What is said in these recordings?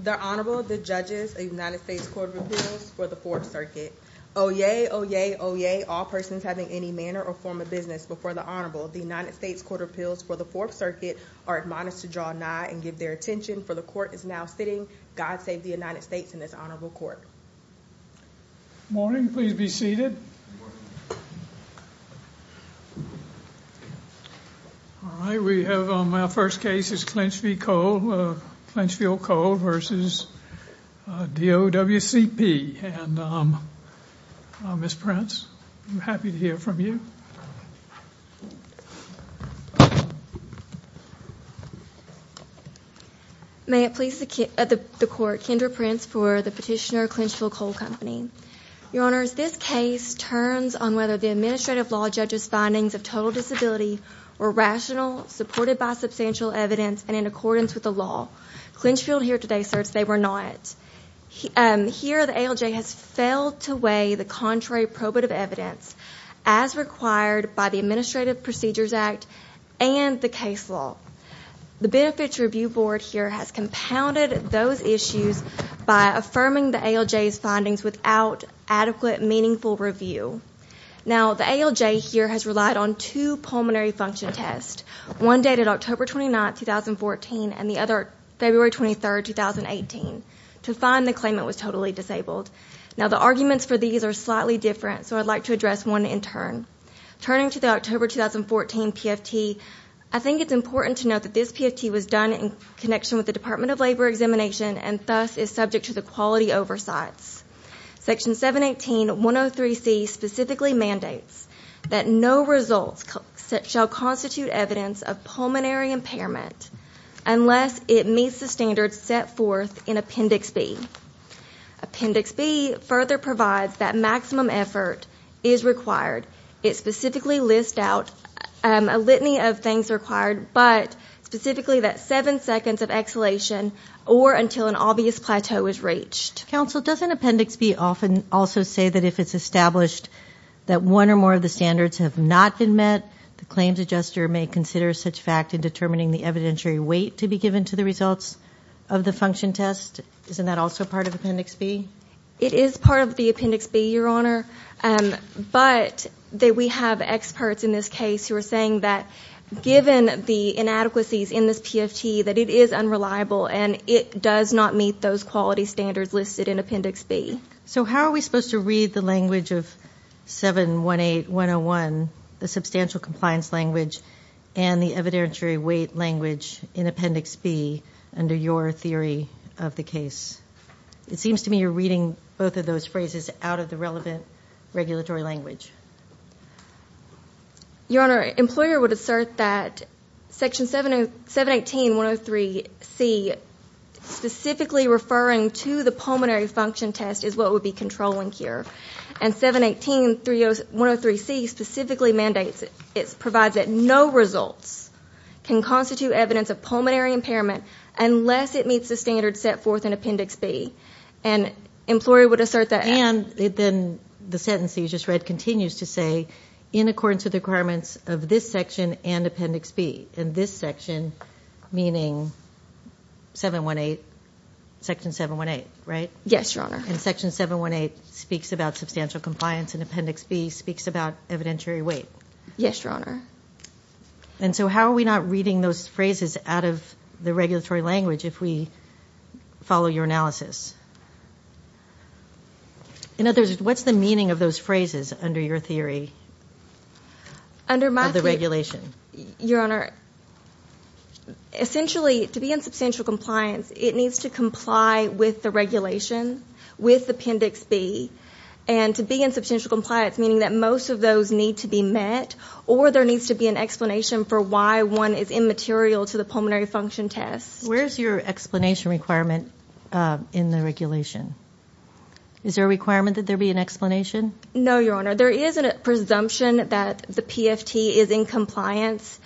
The Honorable, the Judges, a United States Court of Appeals for the Fourth Circuit. Oyez, oyez, oyez, all persons having any manner or form of business before the Honorable, the United States Court of Appeals for the Fourth Circuit are admonished to draw nigh and give their attention, for the Court is now sitting. God save the United States and this Honorable Court. Good morning, please be seated. All right, we have our first case is Clinchfield Coal v. DOWCP. Ms. Prince, I'm happy to hear from you. May it please the Court, Kendra Prince for the petitioner, Clinchfield Coal Company. Your Honors, this case turns on whether the administrative law judges' findings of total disability were rational, supported by substantial evidence, and in accordance with the law. Clinchfield here today asserts they were not. Here, the ALJ has failed to weigh the contrary probative evidence as required by the Administrative Procedures Act and the case law. The Benefits Review Board here has compounded those issues by affirming the ALJ's findings without adequate, meaningful review. Now the ALJ here has relied on two pulmonary function tests. One dated October 29, 2014, and the other February 23, 2018, to find the claimant was totally disabled. Now the arguments for these are slightly different, so I'd like to address one in turn. Turning to the October 2014 PFT, I think it's important to note that this PFT was done in connection with the Department of Labor examination and thus is subject to the quality oversights. Section 718.103c specifically mandates that no results shall constitute evidence of pulmonary impairment unless it meets the standards set forth in Appendix B. Appendix B further provides that maximum effort is required. It specifically lists out a litany of things required, but specifically that seven seconds of exhalation or until an obvious plateau is reached. Counsel, doesn't Appendix B often also say that if it's established that one or more of the standards have not been met, the claims adjuster may consider such fact in determining the evidentiary weight to be given to the results of the function test? Isn't that also part of Appendix B? It is part of the Appendix B, Your Honor, but we have experts in this case who are saying that given the inadequacies in this PFT, that it is unreliable and it does not meet those quality standards listed in Appendix B. So how are we supposed to read the language of 718.101, the substantial compliance language and the evidentiary weight language in Appendix B under your theory of the case? It seems to me you're reading both of those phrases out of the relevant regulatory language. Your Honor, employer would assert that Section 718.103C, specifically referring to the pulmonary function test is what would be controlling here and 718.103C specifically mandates, it provides that no results can constitute evidence of pulmonary impairment unless it meets the standard set forth in Appendix B and employer would assert that. And then the sentence that you just read continues to say, in accordance with the requirements of this section and Appendix B, and this section meaning 718, Section 718, right? Yes, Your Honor. And Section 718 speaks about substantial compliance and Appendix B speaks about evidentiary weight. Yes, Your Honor. And so how are we not reading those phrases out of the regulatory language if we follow your analysis? What's the meaning of those phrases under your theory of the regulation? Your Honor, essentially to be in substantial compliance it needs to comply with the regulation with Appendix B and to be in substantial compliance meaning that most of those need to be met or there needs to be an explanation for why one is immaterial to the pulmonary function test. Where's your explanation requirement in the regulation? Is there a requirement that there be an explanation? No, Your Honor. There is a presumption that the PFT is in compliance,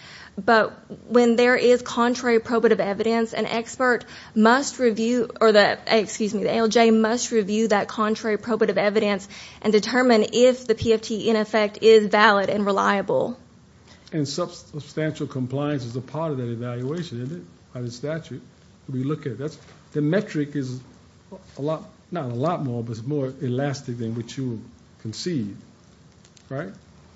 but when there is contrary probative evidence, an expert must review, excuse me, the ALJ must review that contrary probative evidence and determine if the PFT in effect is valid and reliable. And substantial compliance is a part of that evaluation, isn't it, by the statute? The metric is a lot, not a lot more, but it's more elastic than what you concede, right?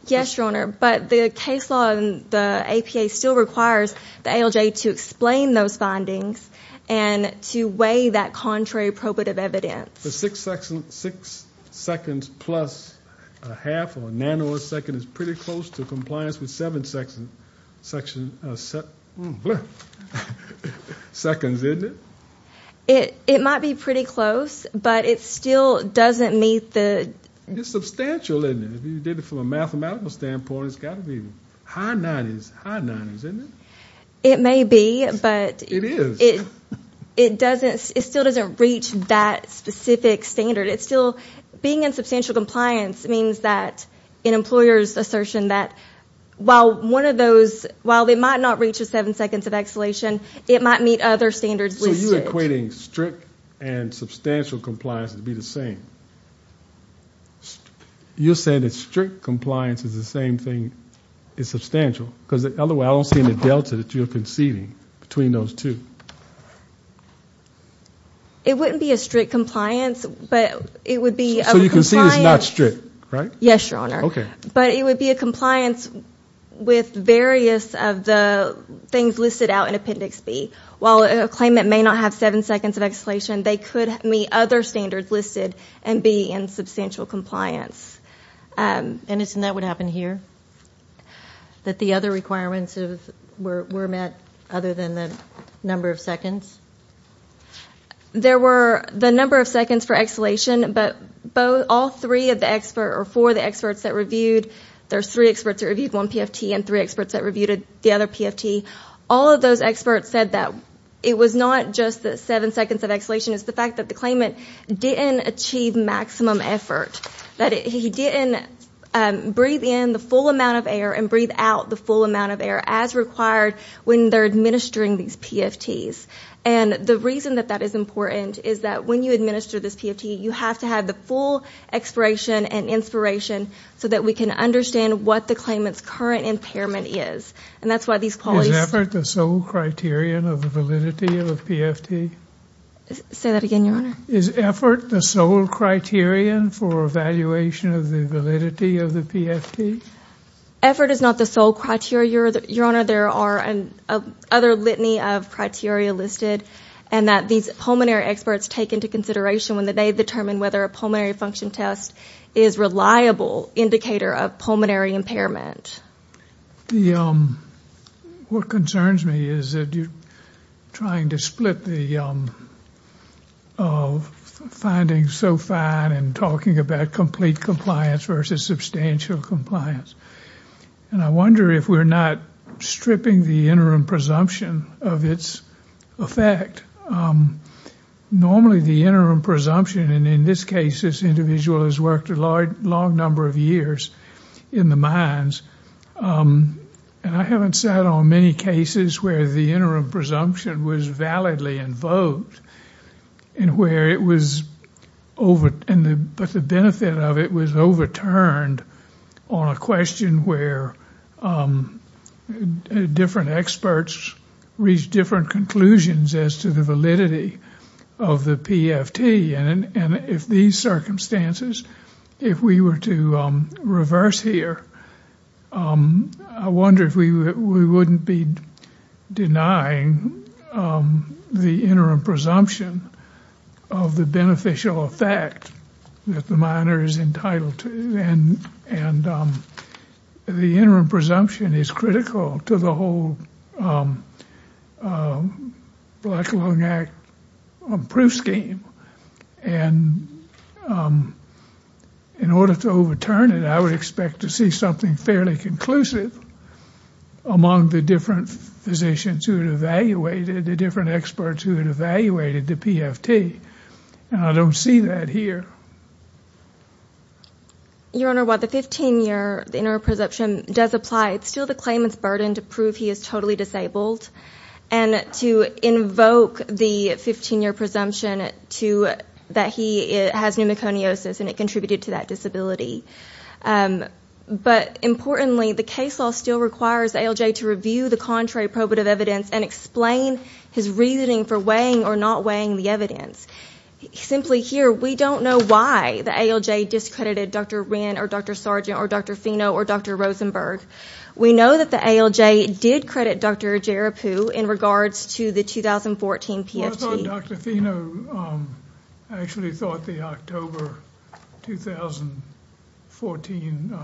Yes, Your Honor. But the case law in the APA still requires the ALJ to explain those findings and to weigh that contrary probative evidence. The six seconds plus a half or a nanosecond is pretty close to compliance with seven seconds, isn't it? It might be pretty close, but it still doesn't meet the... It's substantial, isn't it? If you did it from a mathematical standpoint, it's got to be high 90s, high 90s, isn't it? It may be, but... It is. It doesn't... It still doesn't reach that specific standard. It's still... Being in substantial compliance means that an employer's assertion that while one of those... While they might not reach a seven seconds of exhalation, it might meet other standards listed. So you're equating strict and substantial compliance to be the same. You're saying that strict compliance is the same thing, it's substantial, because the other way, I don't see any delta that you're conceding between those two. It wouldn't be a strict compliance, but it would be a compliance... So you concede it's not strict, right? Yes, Your Honor. Okay. But it would be a compliance with various of the things listed out in Appendix B. While a claimant may not have seven seconds of exhalation, they could meet other standards listed and be in substantial compliance. And isn't that what happened here? That the other requirements were met other than the number of seconds? There were the number of seconds for exhalation, but all three of the experts, or four of the experts that reviewed... There's three experts that reviewed one PFT and three experts that reviewed the other PFT. All of those experts said that it was not just the seven seconds of exhalation. It's the fact that the claimant didn't achieve maximum effort, that he didn't breathe in the full amount of air and breathe out the full amount of air as required when they're administering these PFTs. And the reason that that is important is that when you administer this PFT, you have to have the full expiration and inspiration so that we can understand what the claimant's current impairment is. And that's why these policies... Is effort the sole criterion of the validity of a PFT? Say that again, Your Honor. Is effort the sole criterion for evaluation of the validity of the PFT? Effort is not the sole criteria, Your Honor. There are other litany of criteria listed, and that these pulmonary experts take into consideration when they determine whether a pulmonary function test is a reliable indicator of pulmonary impairment. What concerns me is that you're trying to split the findings so fine and talking about complete compliance versus substantial compliance. And I wonder if we're not stripping the interim presumption of its effect. Normally the interim presumption, and in this case this individual has worked a long number of years in the mines, and I haven't sat on many cases where the interim presumption was validly invoked, but the benefit of it was overturned on a question where different experts reached different conclusions as to the validity of the PFT. And if these circumstances, if we were to reverse here, I wonder if we wouldn't be denying the interim presumption of the beneficial effect that the miner is entitled to. And the interim presumption is critical to the whole Black, Alone Act proof scheme. And in order to overturn it, I would expect to see something fairly conclusive among the different physicians who had evaluated, the different experts who had evaluated the PFT. And I don't see that here. Your Honor, while the 15-year interim presumption does apply, it's still the claimant's burden to prove he is totally disabled and to invoke the 15-year presumption that he has pneumoconiosis and it contributed to that disability. But importantly, the case law still requires ALJ to review the contrary probative evidence and explain his reasoning for weighing or not weighing the evidence. Simply here, we don't know why the ALJ discredited Dr. Wren or Dr. Sargent or Dr. Fino or Dr. Rosenberg. We know that the ALJ did credit Dr. Jaripu in regards to the 2014 PFT. Well, I saw Dr. Fino actually thought the October 2014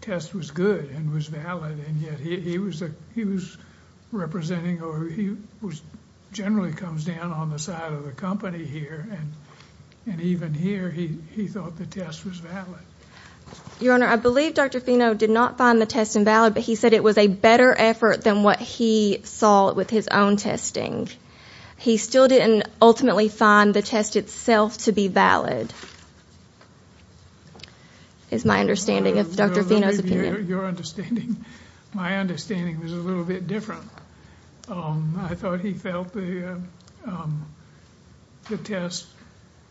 test was good and was valid, and yet he was representing or he generally comes down on the side of the company here and even here he thought the test was valid. Your Honor, I believe Dr. Fino did not find the test invalid, but he said it was a better effort than what he saw with his own testing. He still didn't ultimately find the test itself to be valid is my understanding of Dr. Fino's opinion. Your understanding, my understanding was a little bit different. I thought he felt the test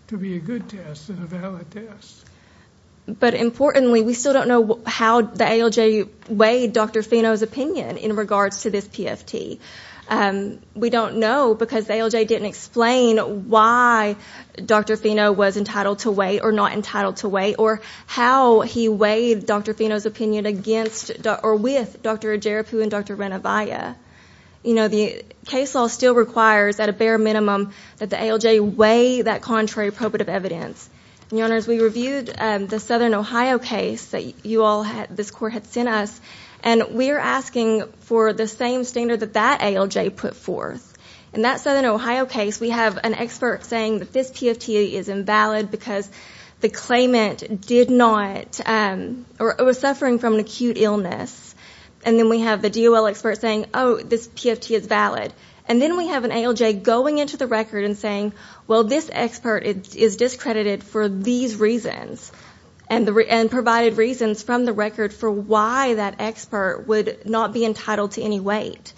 to be a good test and a valid test. But importantly, we still don't know how the ALJ weighed Dr. Fino's opinion in regards to this PFT. We don't know because the ALJ didn't explain why Dr. Fino was entitled to weigh or not entitled to weigh or how he weighed Dr. Fino's opinion against or with Dr. Jaripu and Dr. Renavia. You know, the case law still requires at a bare minimum that the ALJ weigh that contrary probative evidence. Your Honors, we reviewed the Southern Ohio case that you all, this court had sent us, and we're asking for the same standard that that ALJ put forth. In that Southern Ohio case, we have an expert saying that this PFT is invalid because the claimant did not or was suffering from an acute illness. And then we have the DOL expert saying, oh, this PFT is valid. And then we have an ALJ going into the record and saying, well, this expert is discredited for these reasons and provided reasons from the record for why that expert would not be entitled to any weight.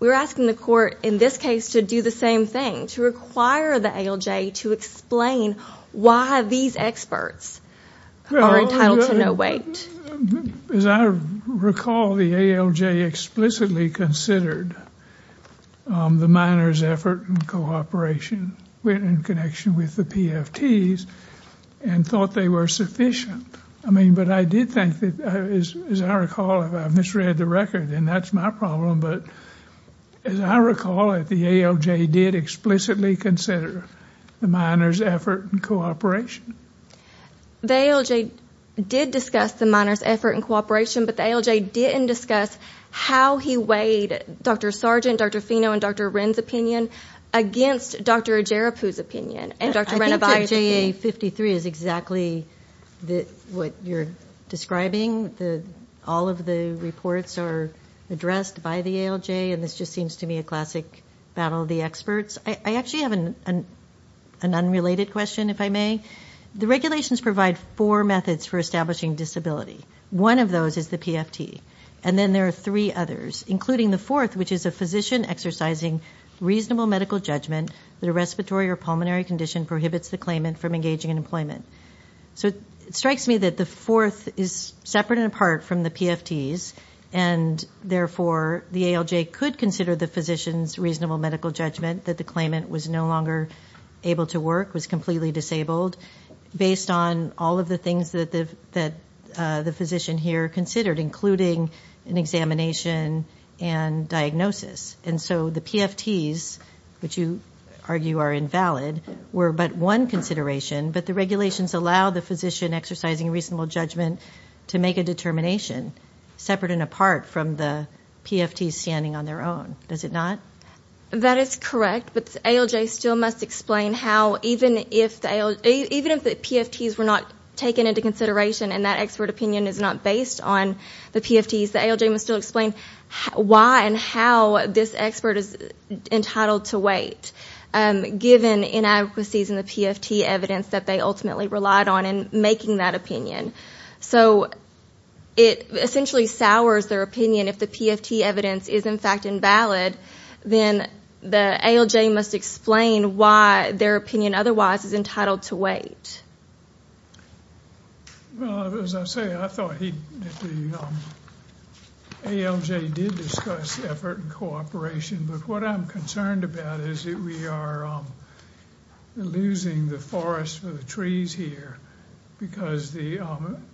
We're asking the court in this case to do the same thing, to require the ALJ to explain why these experts are entitled to no weight. As I recall, the ALJ explicitly considered the miners' effort and cooperation in connection with the PFTs and thought they were sufficient. I mean, but I did think that, as I recall, if I misread the record, then that's my problem. But as I recall it, the ALJ did explicitly consider the miners' effort and cooperation. The ALJ did discuss the miners' effort and cooperation, but the ALJ didn't discuss how he weighed Dr. Sargent, Dr. Fino, and Dr. Wren's opinion against Dr. Ajarapu's opinion and Dr. Renabadi's opinion. I think that JA53 is exactly what you're describing. All of the reports are addressed by the ALJ, and this just seems to me a classic battle of the experts. I actually have an unrelated question, if I may. The regulations provide four methods for establishing disability. One of those is the PFT, and then there are three others, including the fourth, which is a physician exercising reasonable medical judgment that a respiratory or pulmonary condition prohibits the claimant from engaging in employment. So it strikes me that the fourth is separate and apart from the PFTs, and therefore the ALJ could consider the physician's reasonable medical judgment that the claimant was no longer able to work, was completely disabled, based on all of the things that the physician here considered, including an examination and diagnosis. And so the PFTs, which you argue are invalid, were but one consideration, but the regulations allow the physician exercising reasonable judgment to make a determination separate and apart from the PFTs standing on their own, does it not? That is correct, but the ALJ still must explain how, even if the PFTs were not taken into consideration and that expert opinion is not based on the PFTs, the ALJ must still explain why and how this expert is entitled to wait, given inadequacies in the PFT evidence that they ultimately relied on in making that opinion. So it essentially sours their opinion if the PFT evidence is in fact invalid, then the ALJ must explain why their opinion otherwise is entitled to wait. Well, as I say, I thought the ALJ did discuss effort and cooperation, but what I'm concerned about is that we are losing the forest for the trees here because, as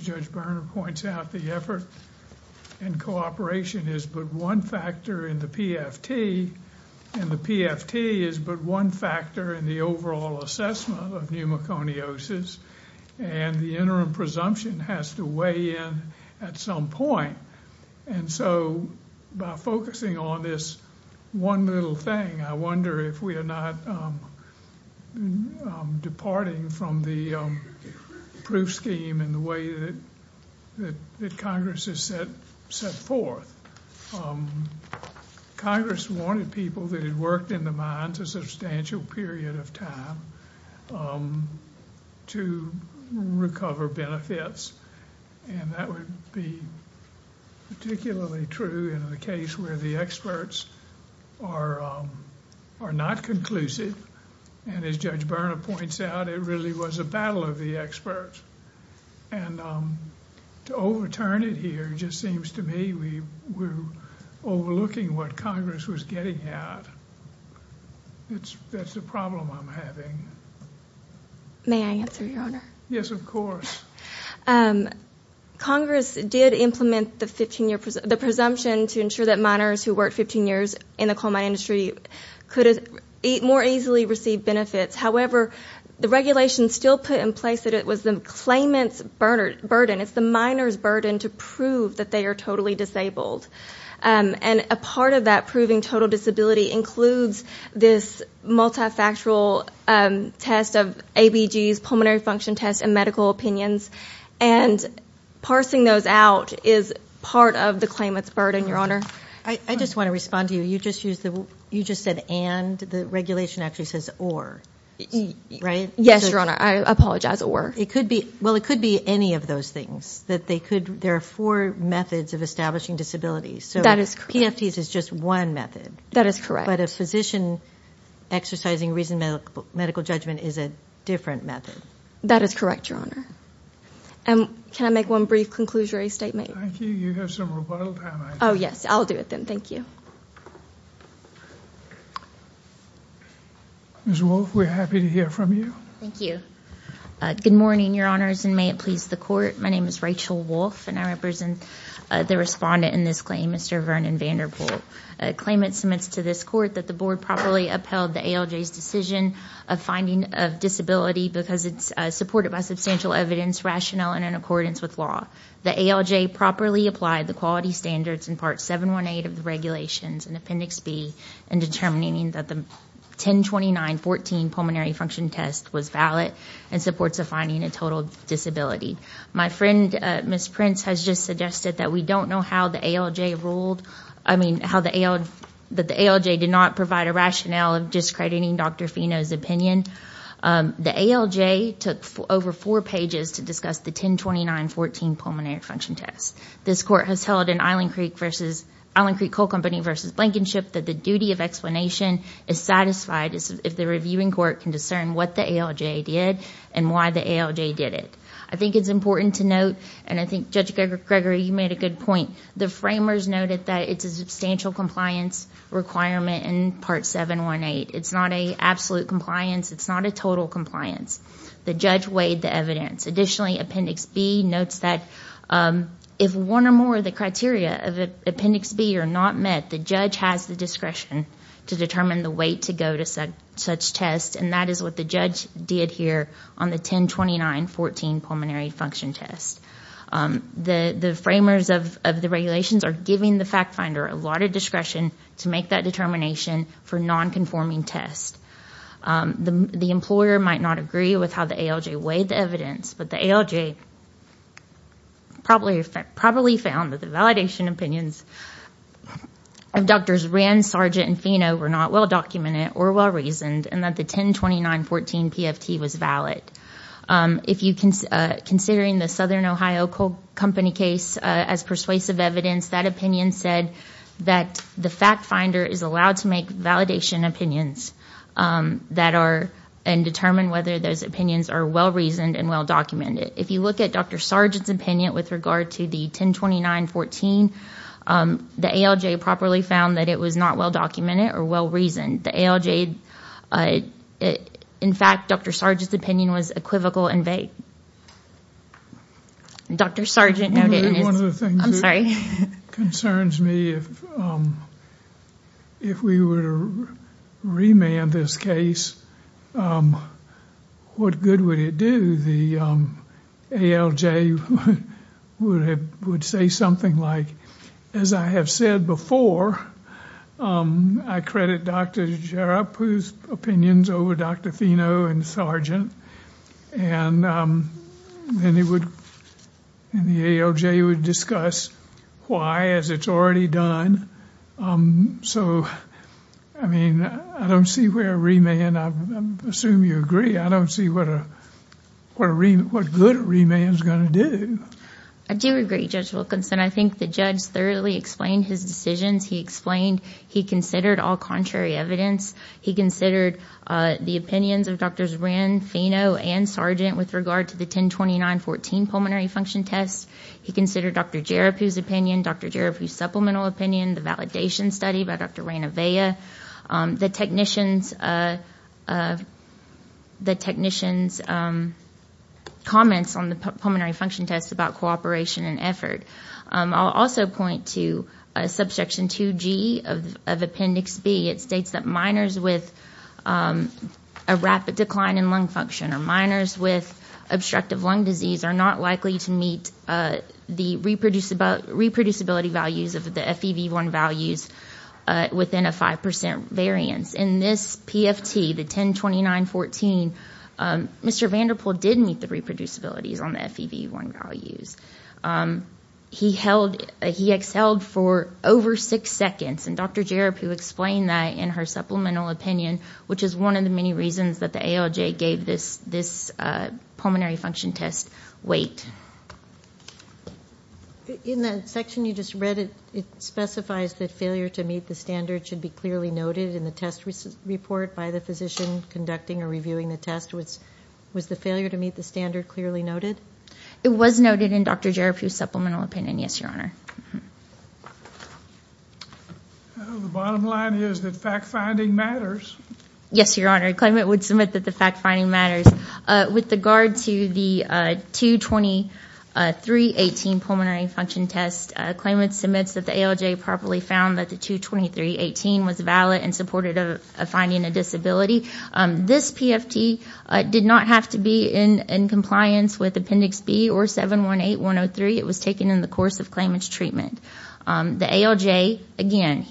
Judge Berner points out, the effort and cooperation is but one factor in the PFT, and the PFT is but one factor in the overall assessment of pneumoconiosis, and the interim presumption has to weigh in at some point, and so by focusing on this one little thing, I wonder if we are not departing from the proof scheme in the way that Congress has set forth. Congress wanted people that had worked in the mines a substantial period of time to recover benefits, and that would be particularly true in the case where the experts are not conclusive, and as Judge Berner points out, it really was a battle of the experts, and to overturn it here just seems to me we're overlooking what Congress was getting at. That's the problem I'm having. May I answer, Your Honor? Yes, of course. Congress did implement the presumption to ensure that miners who worked 15 years in the coal mine industry could more easily receive benefits. However, the regulation still put in place that it was the claimant's burden, it's the miner's burden, to prove that they are totally disabled, and a part of that proving total disability includes this multifactual test of ABGs, pulmonary function tests, and medical opinions, and parsing those out is part of the claimant's burden, Your Honor. I just want to respond to you. You just said and. The regulation actually says or, right? Yes, Your Honor. I apologize. Or. Well, it could be any of those things. There are four methods of establishing disability, so PFTs is just one method. That is correct. But a physician exercising reasonable medical judgment is a different method. That is correct, Your Honor. Can I make one brief conclusionary statement? Thank you. You have some rebuttal time. Oh, yes. I'll do it then. Thank you. Ms. Wolfe, we're happy to hear from you. Thank you. Good morning, Your Honors, and may it please the Court. My name is Rachel Wolfe, and I represent the respondent in this claim, Mr. Vernon Vanderpool. A claimant submits to this Court that the Board properly upheld the ALJ's decision of finding of disability because it's supported by substantial evidence, rationale, and in accordance with law. The ALJ properly applied the quality standards in Part 718 of the regulations in Appendix B in determining that the 102914 pulmonary function test was valid and supports the finding of total disability. My friend, Ms. Prince, has just suggested that we don't know how the ALJ ruled. I mean, how the ALJ did not provide a rationale of discrediting Dr. Fino's opinion. The ALJ took over four pages to discuss the 102914 pulmonary function test. This Court has held in Island Creek vs. Island Creek Coal Company vs. Blankenship that the duty of explanation is satisfied if the reviewing court can discern what the ALJ did and why the ALJ did it. I think it's important to note, and I think Judge Gregory, you made a good point. The framers noted that it's a substantial compliance requirement in Part 718. It's not an absolute compliance. It's not a total compliance. The judge weighed the evidence. Additionally, Appendix B notes that if one or more of the criteria of Appendix B are not met, the judge has the discretion to determine the weight to go to such tests, and that is what the judge did here on the 102914 pulmonary function test. The framers of the regulations are giving the fact finder a lot of discretion to make that determination for non-conforming tests. The employer might not agree with how the ALJ weighed the evidence, but the ALJ probably found that the validation opinions of Drs. Rand, Sargent, and Fino were not well-documented or well-reasoned and that the 102914 PFT was valid. Considering the Southern Ohio Coal Company case as persuasive evidence, that opinion said that the fact finder is allowed to make validation opinions that are and determine whether those opinions are well-reasoned and well-documented. If you look at Dr. Sargent's opinion with regard to the 102914, the ALJ properly found that it was not well-documented or well-reasoned. The ALJ, in fact, Dr. Sargent's opinion was equivocal and vague. One of the things that concerns me, if we were to remand this case, what good would it do? The ALJ would say something like, as I have said before, I credit Dr. Jarappu's opinions over Dr. Fino and Sargent. The ALJ would discuss why, as it's already done. I don't see where a remand, I assume you agree, I don't see what a good remand is going to do. I do agree, Judge Wilkinson. I think the judge thoroughly explained his decisions. He explained he considered all contrary evidence. He considered the opinions of Drs. Wren, Fino, and Sargent with regard to the 102914 pulmonary function test. He considered Dr. Jarappu's opinion, Dr. Jarappu's supplemental opinion, the validation study by Dr. Ranavea, the technician's comments on the pulmonary function test about cooperation and effort. I'll also point to Subsection 2G of Appendix B. It states that minors with a rapid decline in lung function or minors with obstructive lung disease are not likely to meet the reproducibility values of the FEV1 values within a 5% variance. In this PFT, the 102914, Mr. Vanderpool did meet the reproducibility values on the FEV1 values. He exhaled for over 6 seconds. Dr. Jarappu explained that in her supplemental opinion, which is one of the many reasons that the ALJ gave this pulmonary function test weight. In the section you just read, it specifies that failure to meet the standards should be clearly noted in the test report by the physician conducting or reviewing the test. Was the failure to meet the standard clearly noted? It was noted in Dr. Jarappu's supplemental opinion, yes, Your Honor. The bottom line is that fact-finding matters. Yes, Your Honor. Claimant would submit that the fact-finding matters. With regard to the 22318 pulmonary function test, claimant submits that the ALJ properly found that the 22318 was valid and supported finding a disability. This PFT did not have to be in compliance with Appendix B or 718103. It was taken in the course of claimant's treatment. The ALJ, again,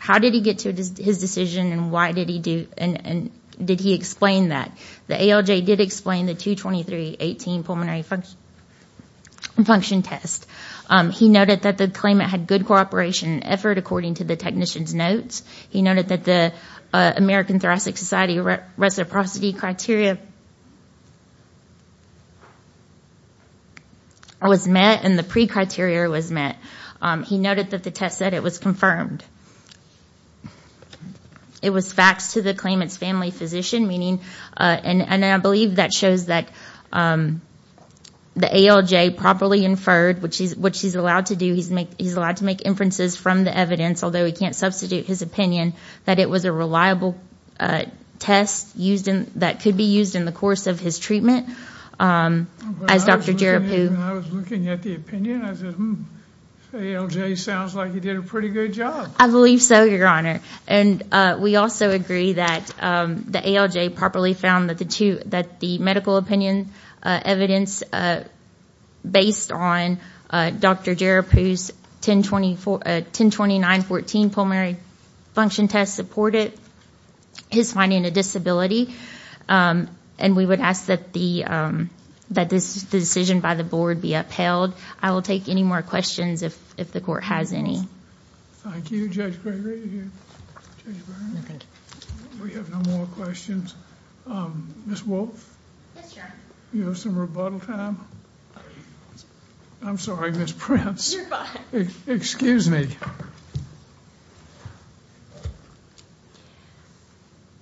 how did he get to his decision and did he explain that? The ALJ did explain the 22318 pulmonary function test. He noted that the claimant had good cooperation and effort according to the technician's notes. He noted that the American Thoracic Society reciprocity criteria was met and the pre-criteria was met. He noted that the test said it was confirmed. It was faxed to the claimant's family physician, meaning, and I believe that shows that the ALJ properly inferred, which he's allowed to do, he's allowed to make inferences from the evidence, although he can't substitute his opinion, that it was a reliable test that could be used in the course of his treatment. When I was looking at the opinion, I said, ALJ sounds like he did a pretty good job. I believe so, Your Honor, and we also agree that the ALJ properly found that the medical opinion evidence based on Dr. Jarappu's 102914 pulmonary function test supported his finding a disability. We would ask that the decision by the board be upheld. I will take any more questions if the court has any. Thank you, Judge Gregory. Thank you. We have no more questions. Ms. Wolfe? Yes, Your Honor. Do you have some rebuttal time? I'm sorry, Ms. Prince. You're fine. Excuse me.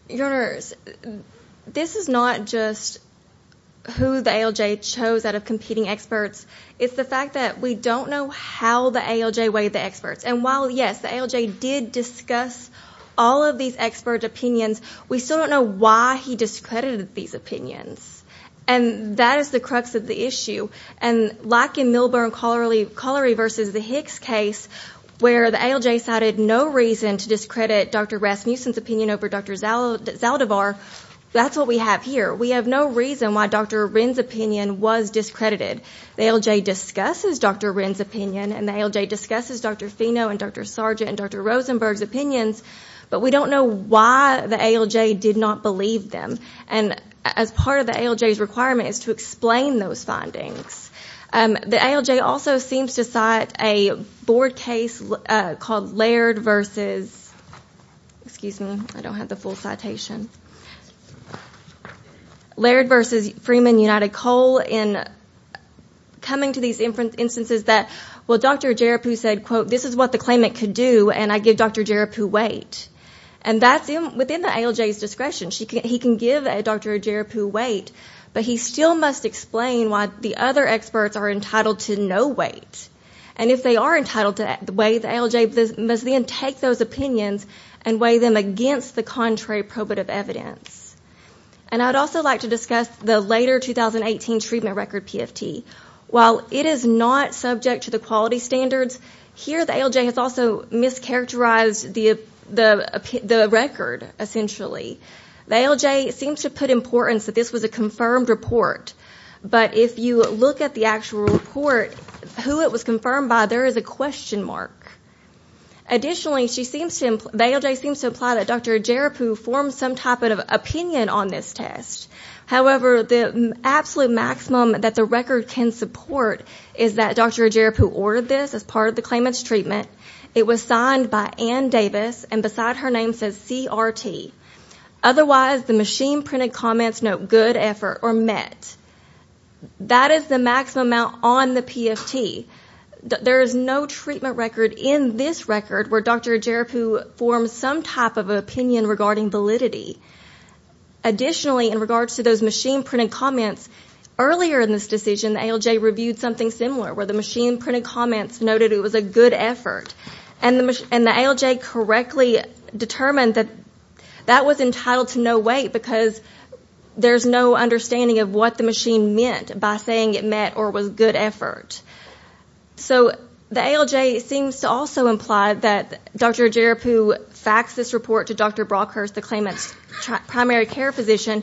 Your Honor, this is not just who the ALJ chose out of competing experts. It's the fact that we don't know how the ALJ weighed the experts. And while, yes, the ALJ did discuss all of these expert opinions, we still don't know why he discredited these opinions. And that is the crux of the issue. And like in Milburn-Collery v. the Hicks case, where the ALJ cited no reason to discredit Dr. Rasmussen's opinion over Dr. Zaldivar, that's what we have here. We have no reason why Dr. Rinn's opinion was discredited. The ALJ discusses Dr. Rinn's opinion and the ALJ discusses Dr. Fino and Dr. Sargent and Dr. Rosenberg's opinions, but we don't know why the ALJ did not believe them. And as part of the ALJ's requirement is to explain those findings. The ALJ also seems to cite a board case called Laird v. Freeman v. United Coal in coming to these instances that, well, Dr. Ajerupu said, quote, this is what the claimant could do, and I give Dr. Ajerupu weight. And that's within the ALJ's discretion. He can give Dr. Ajerupu weight, but he still must explain why the other experts are entitled to no weight. And if they are entitled to weigh, the ALJ must then take those opinions and weigh them against the contrary probative evidence. And I'd also like to discuss the later 2018 treatment record PFT. While it is not subject to the quality standards, here the ALJ has also mischaracterized the record, essentially. The ALJ seems to put importance that this was a confirmed report, but if you look at the actual report, who it was confirmed by, there is a question mark. Additionally, the ALJ seems to imply that Dr. Ajerupu formed some type of opinion on this test. However, the absolute maximum that the record can support is that Dr. Ajerupu ordered this as part of the claimant's treatment. It was signed by Ann Davis, and beside her name says CRT. Otherwise, the machine-printed comments note good effort or met. That is the maximum amount on the PFT. There is no treatment record in this record where Dr. Ajerupu formed some type of opinion regarding validity. Additionally, in regards to those machine-printed comments, earlier in this decision, the ALJ reviewed something similar where the machine-printed comments noted it was a good effort. And the ALJ correctly determined that that was entitled to no weight because there is no understanding of what the machine meant by saying it met or was good effort. So, the ALJ seems to also imply that Dr. Ajerupu faxed this report to Dr. Brockhurst, the claimant's primary care physician,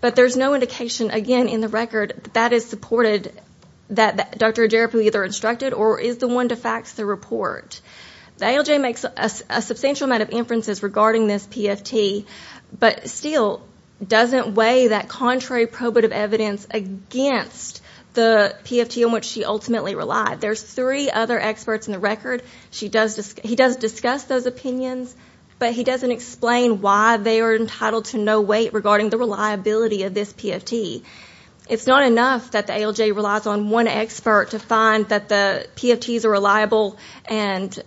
but there is no indication, again, in the record that is supported that Dr. Ajerupu either instructed or is the one to fax the report. The ALJ makes a substantial amount of inferences regarding this PFT, but still doesn't weigh that contrary probative evidence against the PFT in which she ultimately relied. There's three other experts in the record. He does discuss those opinions, but he doesn't explain why they are entitled to no weight regarding the reliability of this PFT. It's not enough that the ALJ relies on one expert to find that the PFTs are reliable and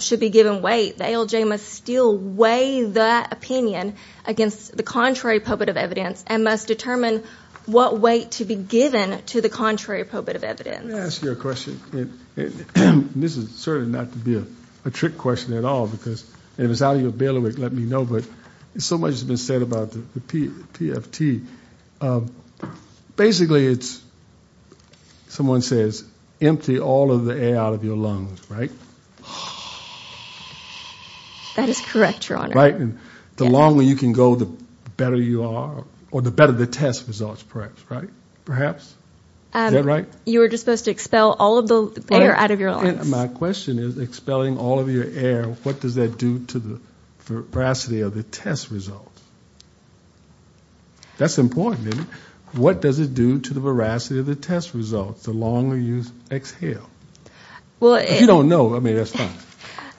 should be given weight. The ALJ must still weigh that opinion against the contrary probative evidence and must determine what weight to be given to the contrary probative evidence. Let me ask you a question. This is certainly not to be a trick question at all because if it's out of your knowledge, let me know, but so much has been said about the PFT. Basically, it's, someone says, empty all of the air out of your lungs, right? That is correct, your honor. Right, and the longer you can go, the better you are, or the better the test results, perhaps, right? Perhaps? Is that right? You were just supposed to expel all of the air out of your lungs. My question is, expelling all of your air, what does that do to the veracity of the test results? That's important, isn't it? What does it do to the veracity of the test results, the longer you exhale? If you don't know, I mean, that's fine.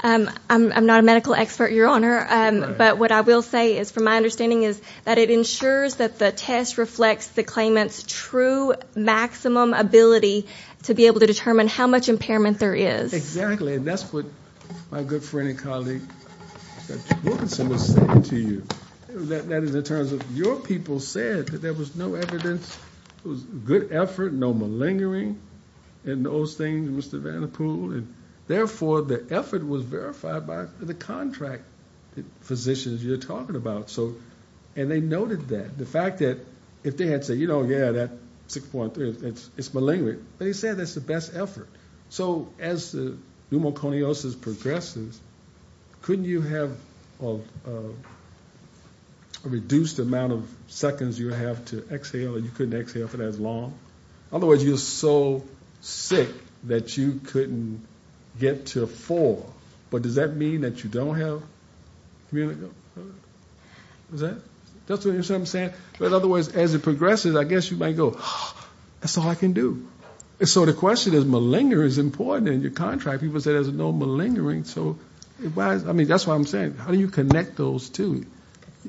I'm not a medical expert, your honor, but what I will say is, from my understanding, is that it ensures that the test reflects the claimant's true maximum ability to be able to determine how much impairment there is. Exactly, and that's what my good friend and colleague, Dr. Wilkinson, was saying to you. That is, in terms of, your people said that there was no evidence, it was good effort, no malingering in those things, Mr. Van De Poel, and therefore, the effort was verified by the contract physicians you're talking about, so, and they noted that. The fact that, if they had said, you know, yeah, that 6.3, it's malingering, but he said that's the best effort. So, as the pneumoconiosis progresses, couldn't you have a reduced amount of seconds you have to exhale and you couldn't exhale for that long? Otherwise, you're so sick that you couldn't get to a four, but does that mean that you don't have communicable, is that, that's what I'm saying? In other words, as it progresses, I guess you might go, that's all I can do. So, the question is, malingering is important in your contract. People said there's no malingering, so, I mean, that's what I'm saying. How do you connect those two?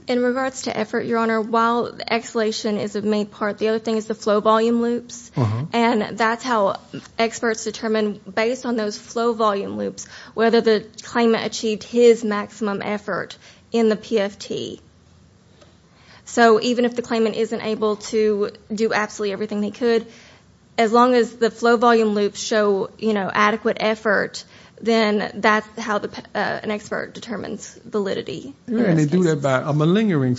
In regards to effort, your honor, while exhalation is a main part, the other thing is the flow volume loops, and that's how experts determine, based on those flow volume loops, whether the claimant achieved his maximum effort in the PFT. So, even if the claimant isn't able to do absolutely everything they could, as long as the flow volume loops show, you know, adequate effort, then that's how an expert determines validity. And they do that by a malingering,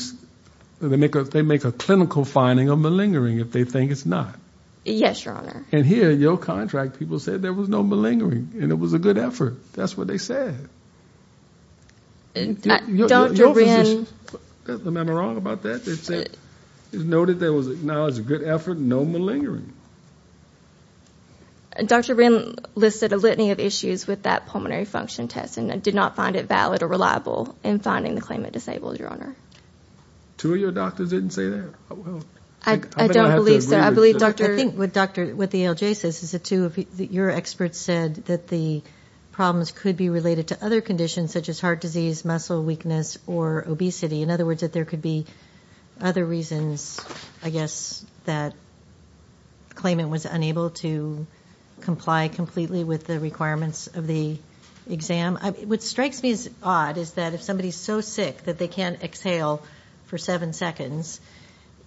they make a clinical finding of malingering if they think it's not. Yes, your honor. And here, in your contract, people said there was no malingering, and it was a good effort. That's what they said. Dr. Wrenn. Your physician, am I wrong about that? They said, it's noted that it was acknowledged as a good effort, no malingering. Dr. Wrenn listed a litany of issues with that pulmonary function test, and did not find it valid or reliable in finding the claimant disabled, your honor. Two of your doctors didn't say that? I don't believe so. I believe Dr. What the ALJ says is that two of your experts said that the problems could be related to other conditions such as heart disease, muscle weakness, or obesity. In other words, that there could be other reasons, I guess, that the claimant was unable to comply completely with the requirements of the exam. What strikes me as odd is that if somebody's so sick that they can't exhale for seven seconds,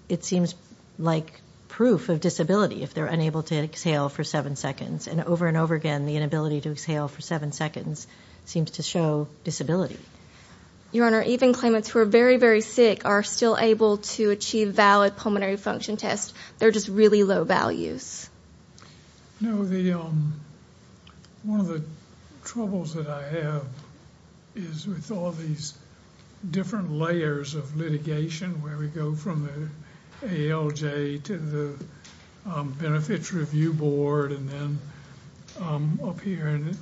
it seems like proof of disability if they're unable to exhale for seven seconds. And over and over again, the inability to exhale for seven seconds seems to show disability. Your honor, even claimants who are very, very sick are still able to achieve valid pulmonary function tests. They're just really low values. You know, one of the troubles that I have is with all these different layers of litigation, where we go from the ALJ to the Benefits Review Board, and then up here. And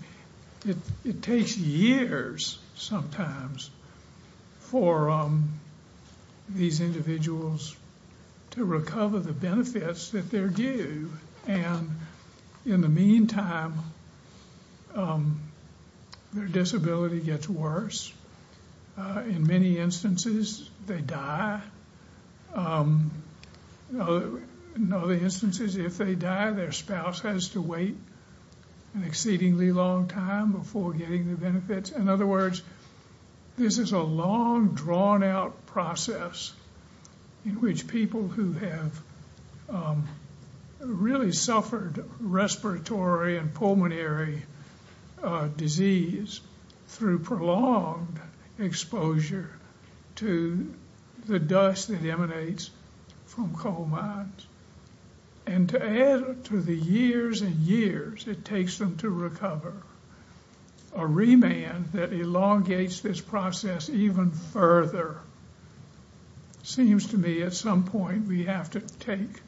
it takes years, sometimes, for these individuals to recover the benefits that they're due. And in the meantime, their disability gets worse. In many instances, they die. In other instances, if they die, their spouse has to wait an exceedingly long time before getting the benefits. In other words, this is a long, drawn-out process in which people who have really suffered respiratory and pulmonary disease through prolonged exposure to the dust that emanates from coal mines. And to add to the years and years it takes them to recover, a remand that elongates this process even further, seems to me at some point we have to take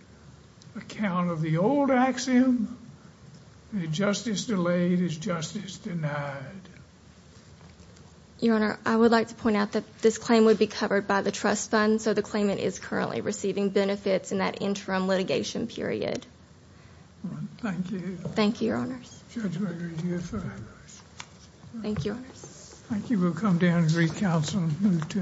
account of the old axiom, that justice delayed is justice denied. Your honor, I would like to point out that this claim would be covered by the trust fund, so the claimant is currently receiving benefits in that interim litigation period. Thank you. Thank you, your honors. Judge Gregory, you have five minutes. Thank you, your honors. Thank you. We'll come down and recounsel and move to the next case.